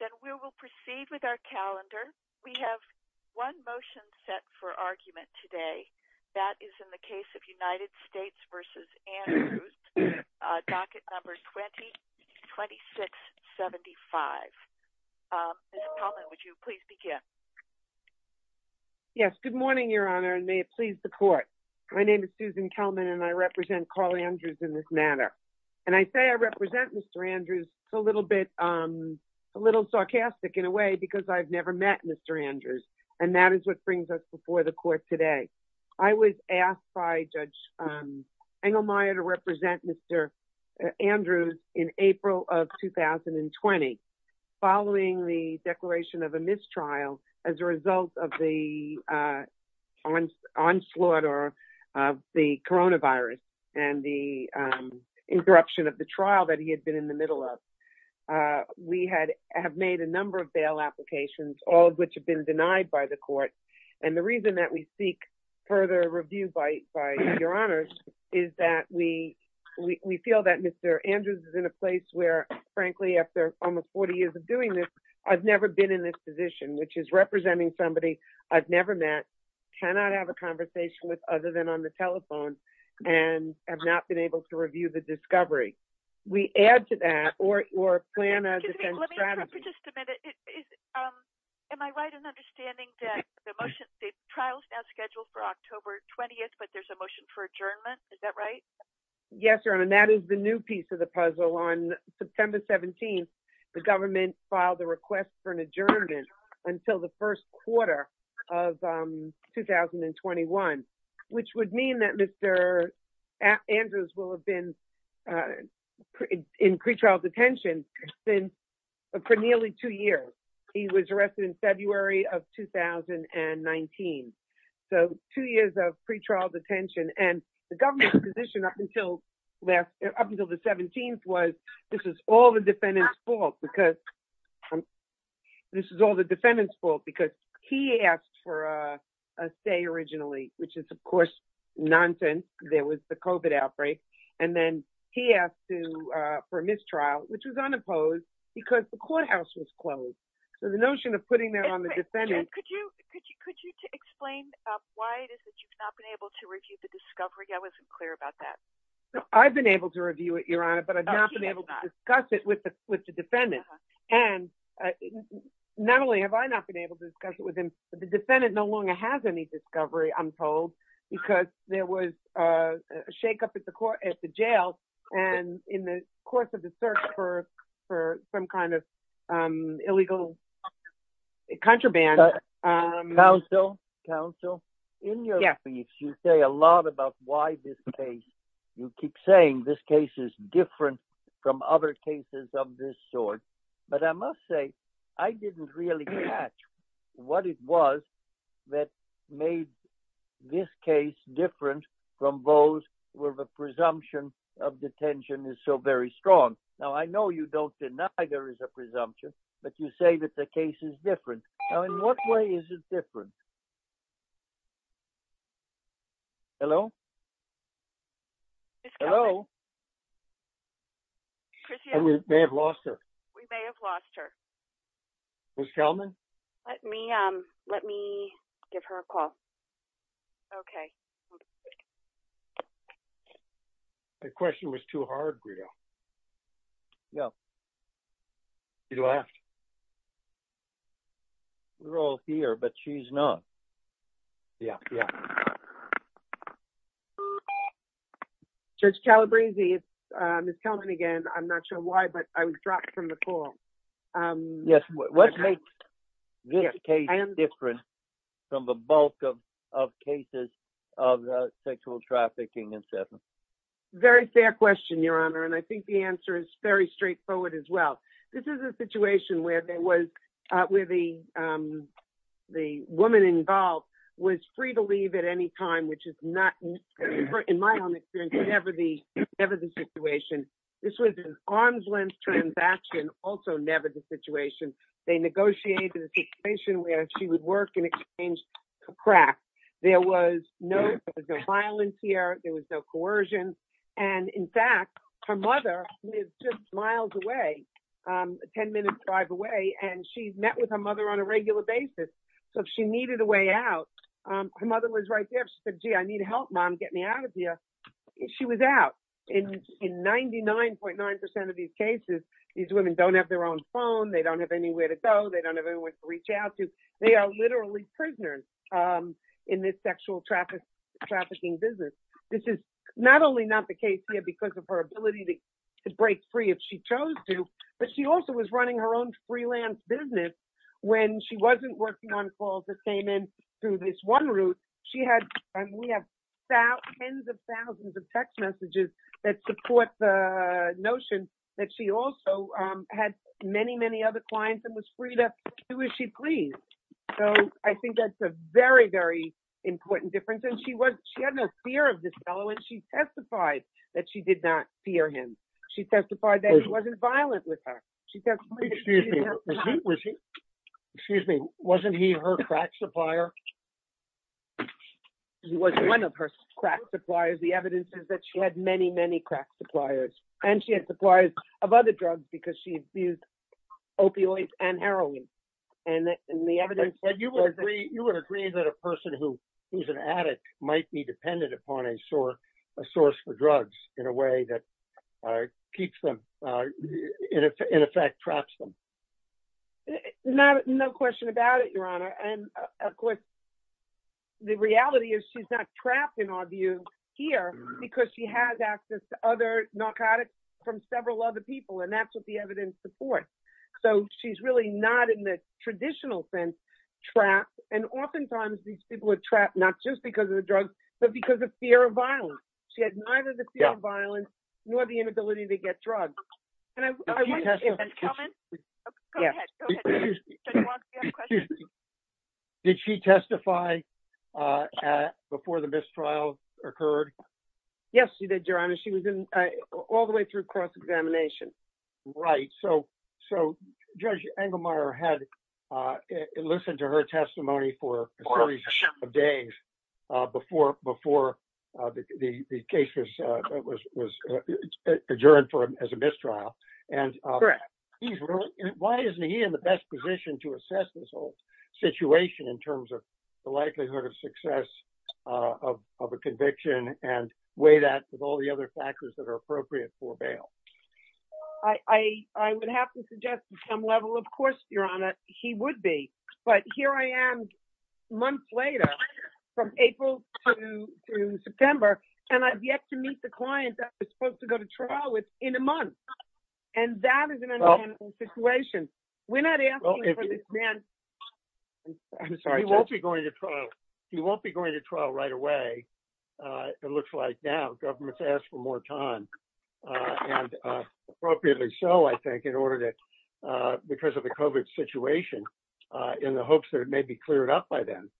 then we will proceed with our calendar we have one motion set for argument today that is in the case of United States v. Andrews docket number 202675. Ms. Kelman would you please begin. Yes good morning your honor and may it please the court my name is Susan Kelman and I represent Mr. Andrews. It's a little bit a little sarcastic in a way because I've never met Mr. Andrews and that is what brings us before the court today. I was asked by Judge Engelmeyer to represent Mr. Andrews in April of 2020 following the declaration of a mistrial as a result of the onslaught or of the coronavirus and the interruption of the trial that he had been in the middle of. We had have made a number of bail applications all of which have been denied by the court and the reason that we seek further review by by your honors is that we we feel that Mr. Andrews is in a place where frankly after almost 40 years of doing this I've never been in this position which is representing somebody I've never met cannot have a conversation with other than on the telephone and have not been able to review the discovery. We add to that or or plan as a strategy. Let me interrupt for just a minute. Am I right in understanding that the motion the trial is now scheduled for October 20th but there's a motion for adjournment is that right? Yes your honor and that is the new piece of the puzzle. On September 17th the government filed a request for an adjournment until the first quarter of 2021 which would mean that Mr. Andrews will have been in pretrial detention since for nearly two years. He was arrested in February of 2019. So two years of pretrial detention and the government's position up until last up until the 17th was this is all the defendant's fault because this is all the defendant's fault because he asked for a stay originally which is of course nonsense. There was the COVID outbreak and then he asked to uh for a mistrial which was unopposed because the courthouse was closed. So the notion of putting that on the defendant could you could you could you explain um why it is that you've not been able to review the discovery? I wasn't clear about that. I've been able to review it your honor but I've not been able to discuss it with the with the defendant and not only have I not been able to discuss it with him but the defendant no longer has any discovery I'm told because there was a shake-up at the court at the jail and in the course of the search for for some kind of um illegal contraband. Counsel counsel in your speech you say a lot about why this case you keep saying this case is different from other cases of this sort but I must say I didn't really catch what it was that made this case different from those where the presumption of detention is so very strong. Now I know you don't deny there is a presumption but you say that the case is different. Now in what way is it different? Hello? Hello? We may have lost her. We may have lost her. Ms. Kelman? Let me um let me give her a call. Okay. The question was too hard, Guido. Yeah. You lost. We're all here but she's not. Yeah, yeah. Judge Calabresi, it's uh Ms. Kelman again. I'm not sure why but I was dropped from the call. Yes, what makes this case different from the bulk of of cases of sexual trafficking and such? Very fair question, your honor, and I think the answer is very straightforward as well. This is a situation where there was uh where the um the woman involved was free to leave at any time which is not in my own experience never the never the situation. This was an arm's-length transaction also never the situation. They negotiated a situation where she would work in exchange for crack. There was no violence here. There was no coercion and in fact her mother is just miles away um 10 minutes drive away and she's met with her mother on a regular basis so if she needed a way out um her mother was right there if she said gee I need help mom get me out she was out in in 99.9 percent of these cases these women don't have their own phone they don't have anywhere to go they don't have anyone to reach out to they are literally prisoners um in this sexual traffic trafficking business this is not only not the case here because of her ability to break free if she chose to but she also was running her own freelance business when she wasn't working on calls that came in through this one route she had and we have thousands of thousands of text messages that support the notion that she also um had many many other clients and was free to do as she pleased so I think that's a very very important difference and she was she had no fear of this fellow and she testified that she did not fear him she testified that he wasn't he her crack supplier he was one of her crack suppliers the evidence is that she had many many crack suppliers and she had suppliers of other drugs because she abused opioids and heroin and the evidence that you would agree you would agree that a person who who's an addict might be dependent upon a sore a source for drugs in a way that uh keeps them uh in effect traps them not no question about it your honor and of course the reality is she's not trapped in our view here because she has access to other narcotics from several other people and that's what the evidence supports so she's really not in the traditional sense trapped and oftentimes these people are trapped not just because of the drugs but because of fear of violence she had neither violence nor the inability to get drugs did she testify uh before the mistrial occurred yes she did your honor she was in all the way through cross-examination right so so judge engelmeyer had uh listened to her testimony for a series of days uh before before uh the the case was uh was was adjourned for as a mistrial and correct he's really why isn't he in the best position to assess this whole situation in terms of the likelihood of success uh of of a conviction and weigh that with all the other factors that are appropriate for bail i i i would have to suggest some level of course your honor he would be but here i am months later from april to september and i've yet to meet the client that was supposed to go to trial with in a month and that is an unmanageable situation we're not asking for this man i'm sorry he won't be going to trial he won't be going to trial right away uh it looks like now government's asked for more time uh and uh appropriately so i think in order to uh because of the covet situation uh in the hopes that it may be cleared up by them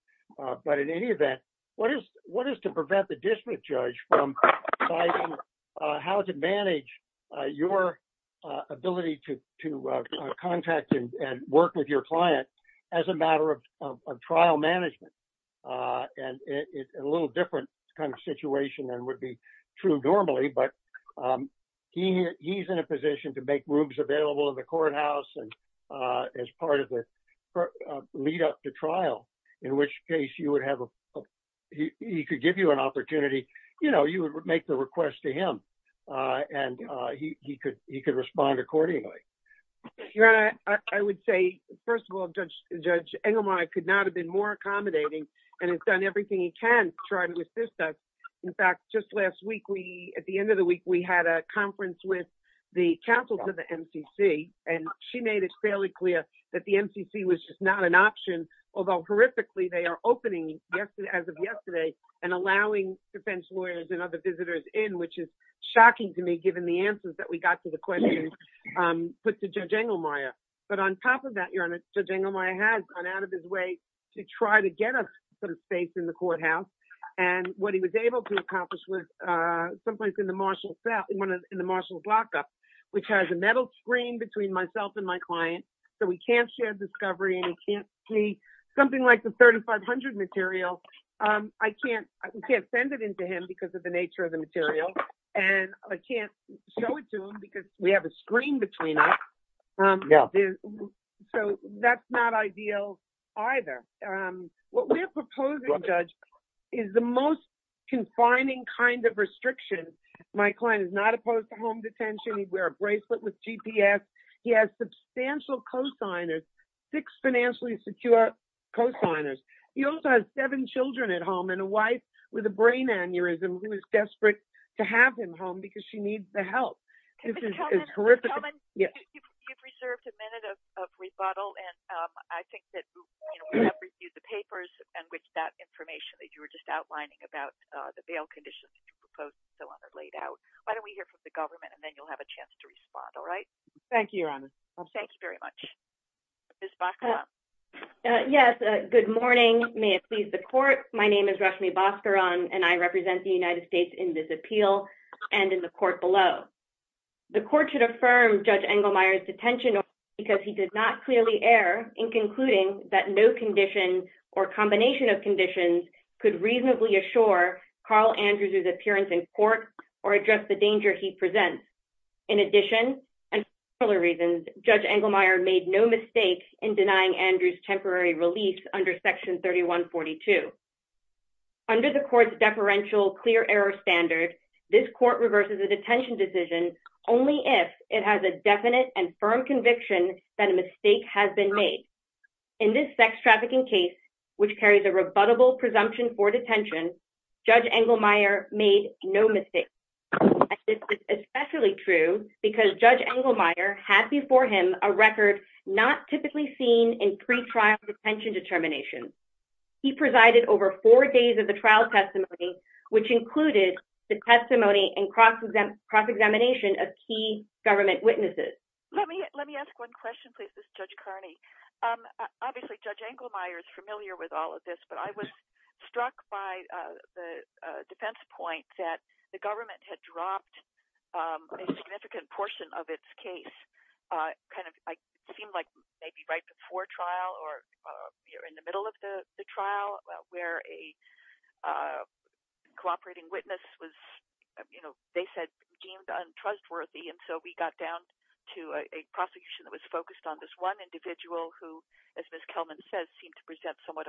uh but in any event what is what is to prevent the district judge from deciding uh how to manage uh your uh ability to to uh contact and and work with your client as a matter of of trial management uh and it's a little different kind of situation than would be true normally but um he he's in a position to make rooms available in the courthouse and uh as part of the lead up to trial in which case you would have a he could give you an opportunity you know you would make the request to him uh and uh he he could he could respond accordingly your honor i would say first of all judge judge engelman i could not have been more accommodating and he's done everything he can try to assist us in fact just last week we at the end of the week we had a conference with the council to the mcc and she made it fairly clear that the mcc was just not an option although horrifically they are opening yesterday as of yesterday and allowing defense lawyers and other visitors in which is shocking to me given the answers that we got to the question um put to judge engelmayer but on top of that your honor judge engelmayer has gone out of his way to try to get us some space in the courthouse and what he was able to accomplish was uh someplace in the marshall cell in one of in the marshall's lockup which has a metal screen between myself and my client so we can't share discovery and he can't see something like the 3500 material um i can't i can't send it into him because of the nature of the material and i can't show it because we have a screen between us um yeah so that's not ideal either um what we're proposing judge is the most confining kind of restrictions my client is not opposed to home detention he'd wear a bracelet with gps he has substantial co-signers six financially secure co-signers he also has seven children at home and a wife with a brain aneurysm who is desperate to have him home because she needs the help this is horrific you've reserved a minute of of rebuttal and um i think that you know we have reviewed the papers and which that information that you were just outlining about uh the bail conditions you proposed so on that laid out why don't we hear from the government and then you'll have a chance to respond all right thank you your honor thank you very much yes uh good morning may it please the court my name is rashmi bascaron and i represent the united states in this appeal and in the court below the court should affirm judge engelmeyer's detention because he did not clearly err in concluding that no condition or combination of conditions could reasonably assure carl andrews's appearance in court or address the danger he presents in addition and other reasons judge engelmeyer made no mistake in denying andrews temporary release under section 3142 under the court's deferential clear error standard this court reverses a detention decision only if it has a definite and firm conviction that a mistake has been made in this sex trafficking case which carries a rebuttable presumption for detention judge engelmeyer made no mistake this is especially true because judge engelmeyer had before him a record not typically seen in pre-trial detention determinations he presided over four days of the trial testimony which included the testimony and cross exam cross examination of key government witnesses let me let me ask one question please this judge carney um obviously judge engelmeyer is familiar with all of this but i was struck by uh the defense point that the government had dropped um a significant portion of its case uh kind of like seemed like maybe right before trial or uh here in the middle of the the trial where a uh cooperating witness was you know they said deemed untrustworthy and so we got down to a prosecution that was focused on this one individual who as miss kelman says seemed to present somewhat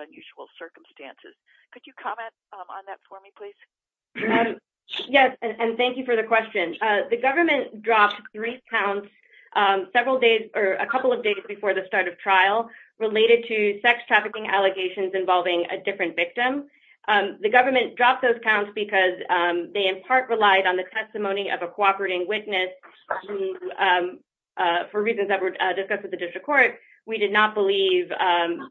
yes and thank you for the question uh the government dropped three counts um several days or a couple of days before the start of trial related to sex trafficking allegations involving a different victim um the government dropped those counts because um they in part relied on the testimony of a cooperating witness who um uh for reasons that were discussed with the district court we did not believe um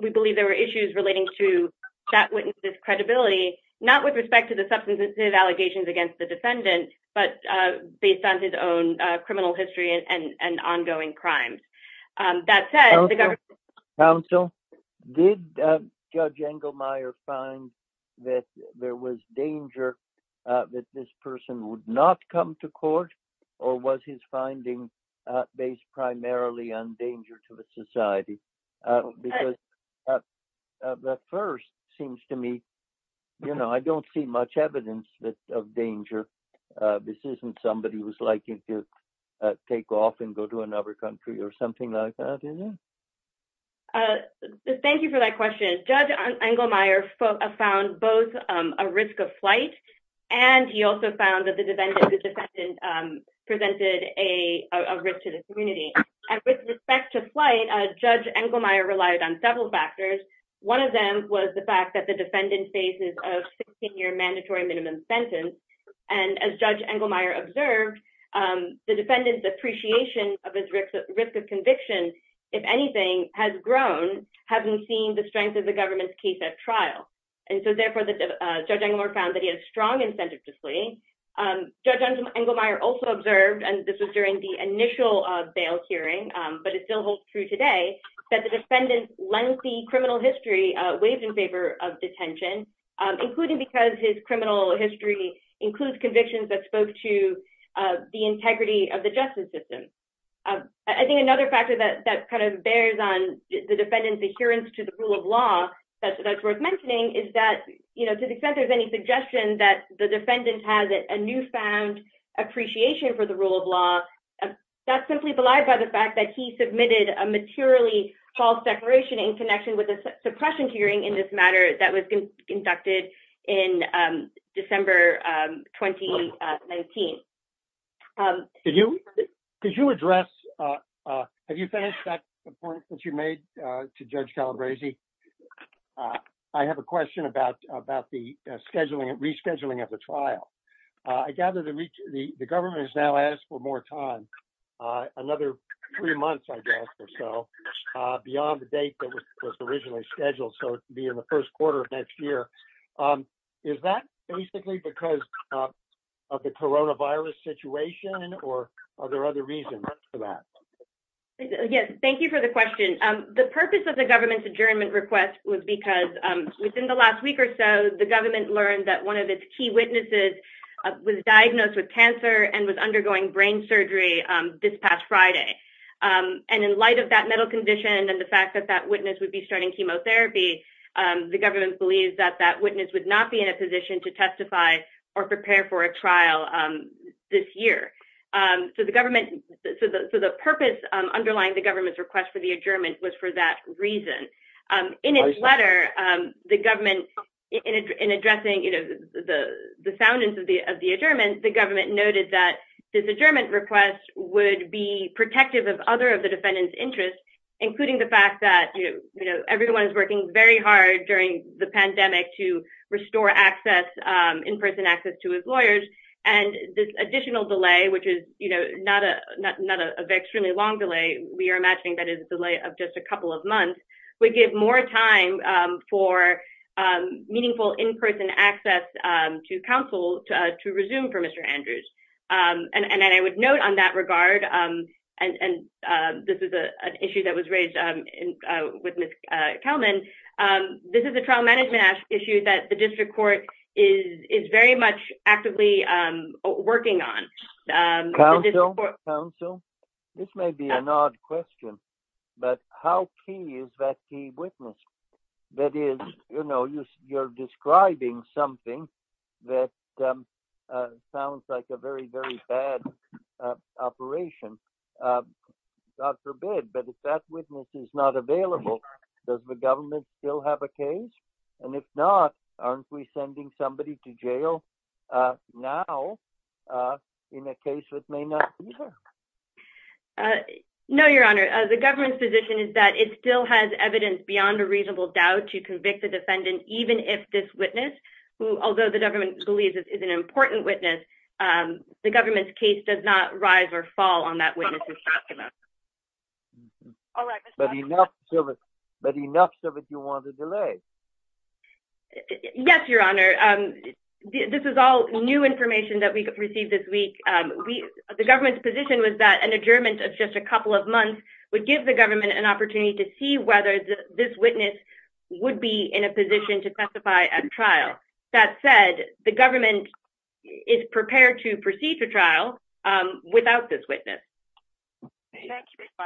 we believe there were issues relating to that witness's credibility not with respect to the substantive allegations against the defendant but uh based on his own uh criminal history and and ongoing crimes um that said the government counsel did uh judge engelmeyer find that there was danger uh that this person would not come to me you know i don't see much evidence that of danger uh this isn't somebody who's liking to take off and go to another country or something like that uh thank you for that question judge engelmeyer found both um a risk of flight and he also found that the defendant the defendant um presented a a risk to the community and with respect to flight uh judge engelmeyer relied on several factors one of them was the fact that the defendant faces a 16-year mandatory minimum sentence and as judge engelmeyer observed um the defendant's appreciation of his risk of conviction if anything has grown hasn't seen the strength of the government's case at trial and so therefore the judge engelmeyer found that he had strong incentive to flee um judge engelmeyer also observed and this was during the initial uh bail hearing um but it still holds true today that the defendant's lengthy criminal history uh waved in favor of detention um including because his criminal history includes convictions that spoke to uh the integrity of the justice system i think another factor that that kind of bears on the defendant's adherence to the rule of law that's worth mentioning is that you know to the extent there's any suggestion that the defendant has a newfound appreciation for the rule of law that's simply belied by the fact that he submitted a materially false declaration in connection with a suppression hearing in this matter that was conducted in um december um 2019 um did you could you address uh uh have you finished that point that you made uh to judge calabresi i have a question about about the scheduling and rescheduling of the trial i gather the reach the the government has now asked for more time uh another three months i guess or so uh beyond the date that was originally scheduled so to be in the first quarter of next year um is that basically because of the coronavirus situation or are there other reasons for that yes thank you for the question um the purpose of the government's adjournment request was because um within the last week or so the government learned that one of its key and in light of that mental condition and the fact that that witness would be starting chemotherapy um the government believes that that witness would not be in a position to testify or prepare for a trial um this year um so the government so the so the purpose um underlying the government's request for the adjournment was for that reason um in its letter um the government in addressing you know the the soundness of the of the adjournment the government noted that this adjournment request would be protective of other of the defendant's interests including the fact that you know everyone is working very hard during the pandemic to restore access um in-person access to his lawyers and this additional delay which is you know not a not not a very extremely long delay we are imagining that is a delay of just a couple of months we give more time um for um meaningful in-person access um to counsel to resume for um and and i would note on that regard um and and uh this is a an issue that was raised um in uh with miss uh kelman um this is a trial management issue that the district court is is very much actively um working on um council this may be an odd question but how key is that witness that is you know you're describing something that um uh sounds like a very very bad operation uh god forbid but if that witness is not available does the government still have a case and if not aren't we sending somebody to jail uh now uh in a case that may not be there uh no your honor the government's position is that it still has evidence beyond a reasonable doubt to convict the defendant even if this witness who although the government believes is an important witness um the government's case does not rise or fall on that witness is not going to but enough of it but enough of it you want to delay yes your honor um this is all new information that we received this week um we the government's that an adjournment of just a couple of months would give the government an opportunity to see whether this witness would be in a position to testify at trial that said the government is prepared to proceed to trial um without this witness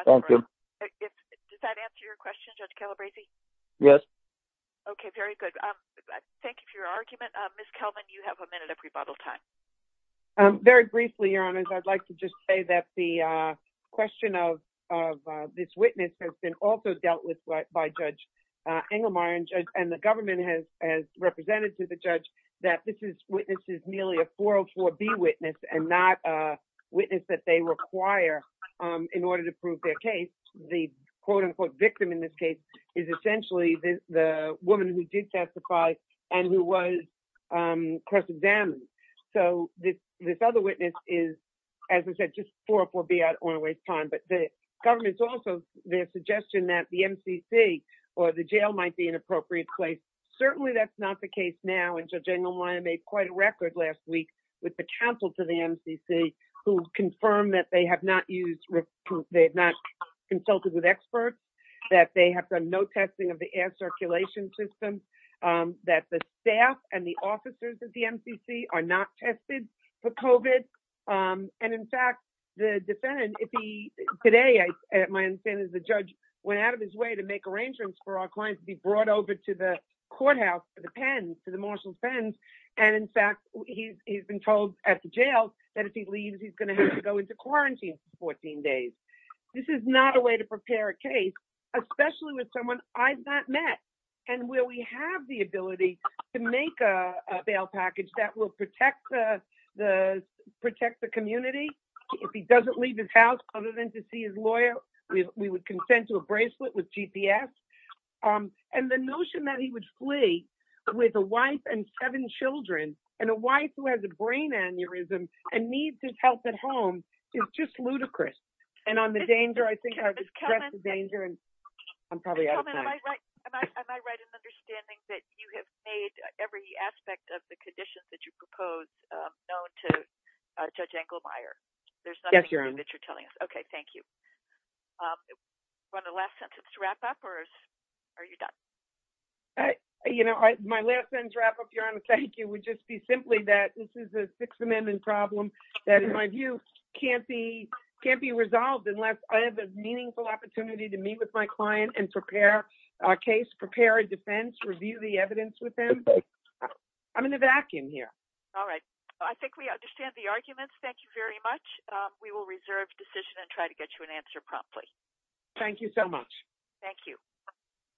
thank you does that answer your question judge calabresi yes okay very good um thank you for your argument uh miss kelman you have a minute rebuttal time um very briefly your honors i'd like to just say that the uh question of of uh this witness has been also dealt with by judge uh engelmeyer and judge and the government has has represented to the judge that this is witnesses nearly a 404 b witness and not a witness that they require um in order to prove their case the quote-unquote victim in this case is essentially the the woman who did testify and who was um cross-examined so this this other witness is as i said just 404 b i don't want to waste time but the government's also their suggestion that the mcc or the jail might be an appropriate place certainly that's not the case now and judge engelmeyer made quite a record last week with the council to the mcc who confirmed that they have not used they have not consulted with experts that they have done no testing of the air circulation systems um that the staff and the officers at the mcc are not tested for covid um and in fact the defendant if he today i my understanding is the judge went out of his way to make arrangements for our clients to be brought over to the courthouse for the pens to the marshal and in fact he's been told at the jail that if he leaves he's going to have to go into quarantine for 14 days this is not a way to prepare a case especially with someone i've not met and where we have the ability to make a bail package that will protect the the protect the community if he doesn't leave his house other than to see his lawyer we would consent to a bracelet with gps um and the seven children and a wife who has a brain aneurysm and needs his help at home is just ludicrous and on the danger i think i've addressed the danger and i'm probably out of time am i right in understanding that you have made every aspect of the conditions that you propose um known to judge engelmeyer there's nothing that you're telling us okay thank you um run the last sentence to wrap up or are you done uh you know my last sentence wrap up your honor thank you would just be simply that this is a sixth amendment problem that in my view can't be can't be resolved unless i have a meaningful opportunity to meet with my client and prepare a case prepare a defense review the evidence with them i'm in the vacuum here all right i think we understand the arguments thank you very much um we will reserve decision and try to get you an answer promptly thank you so much thank you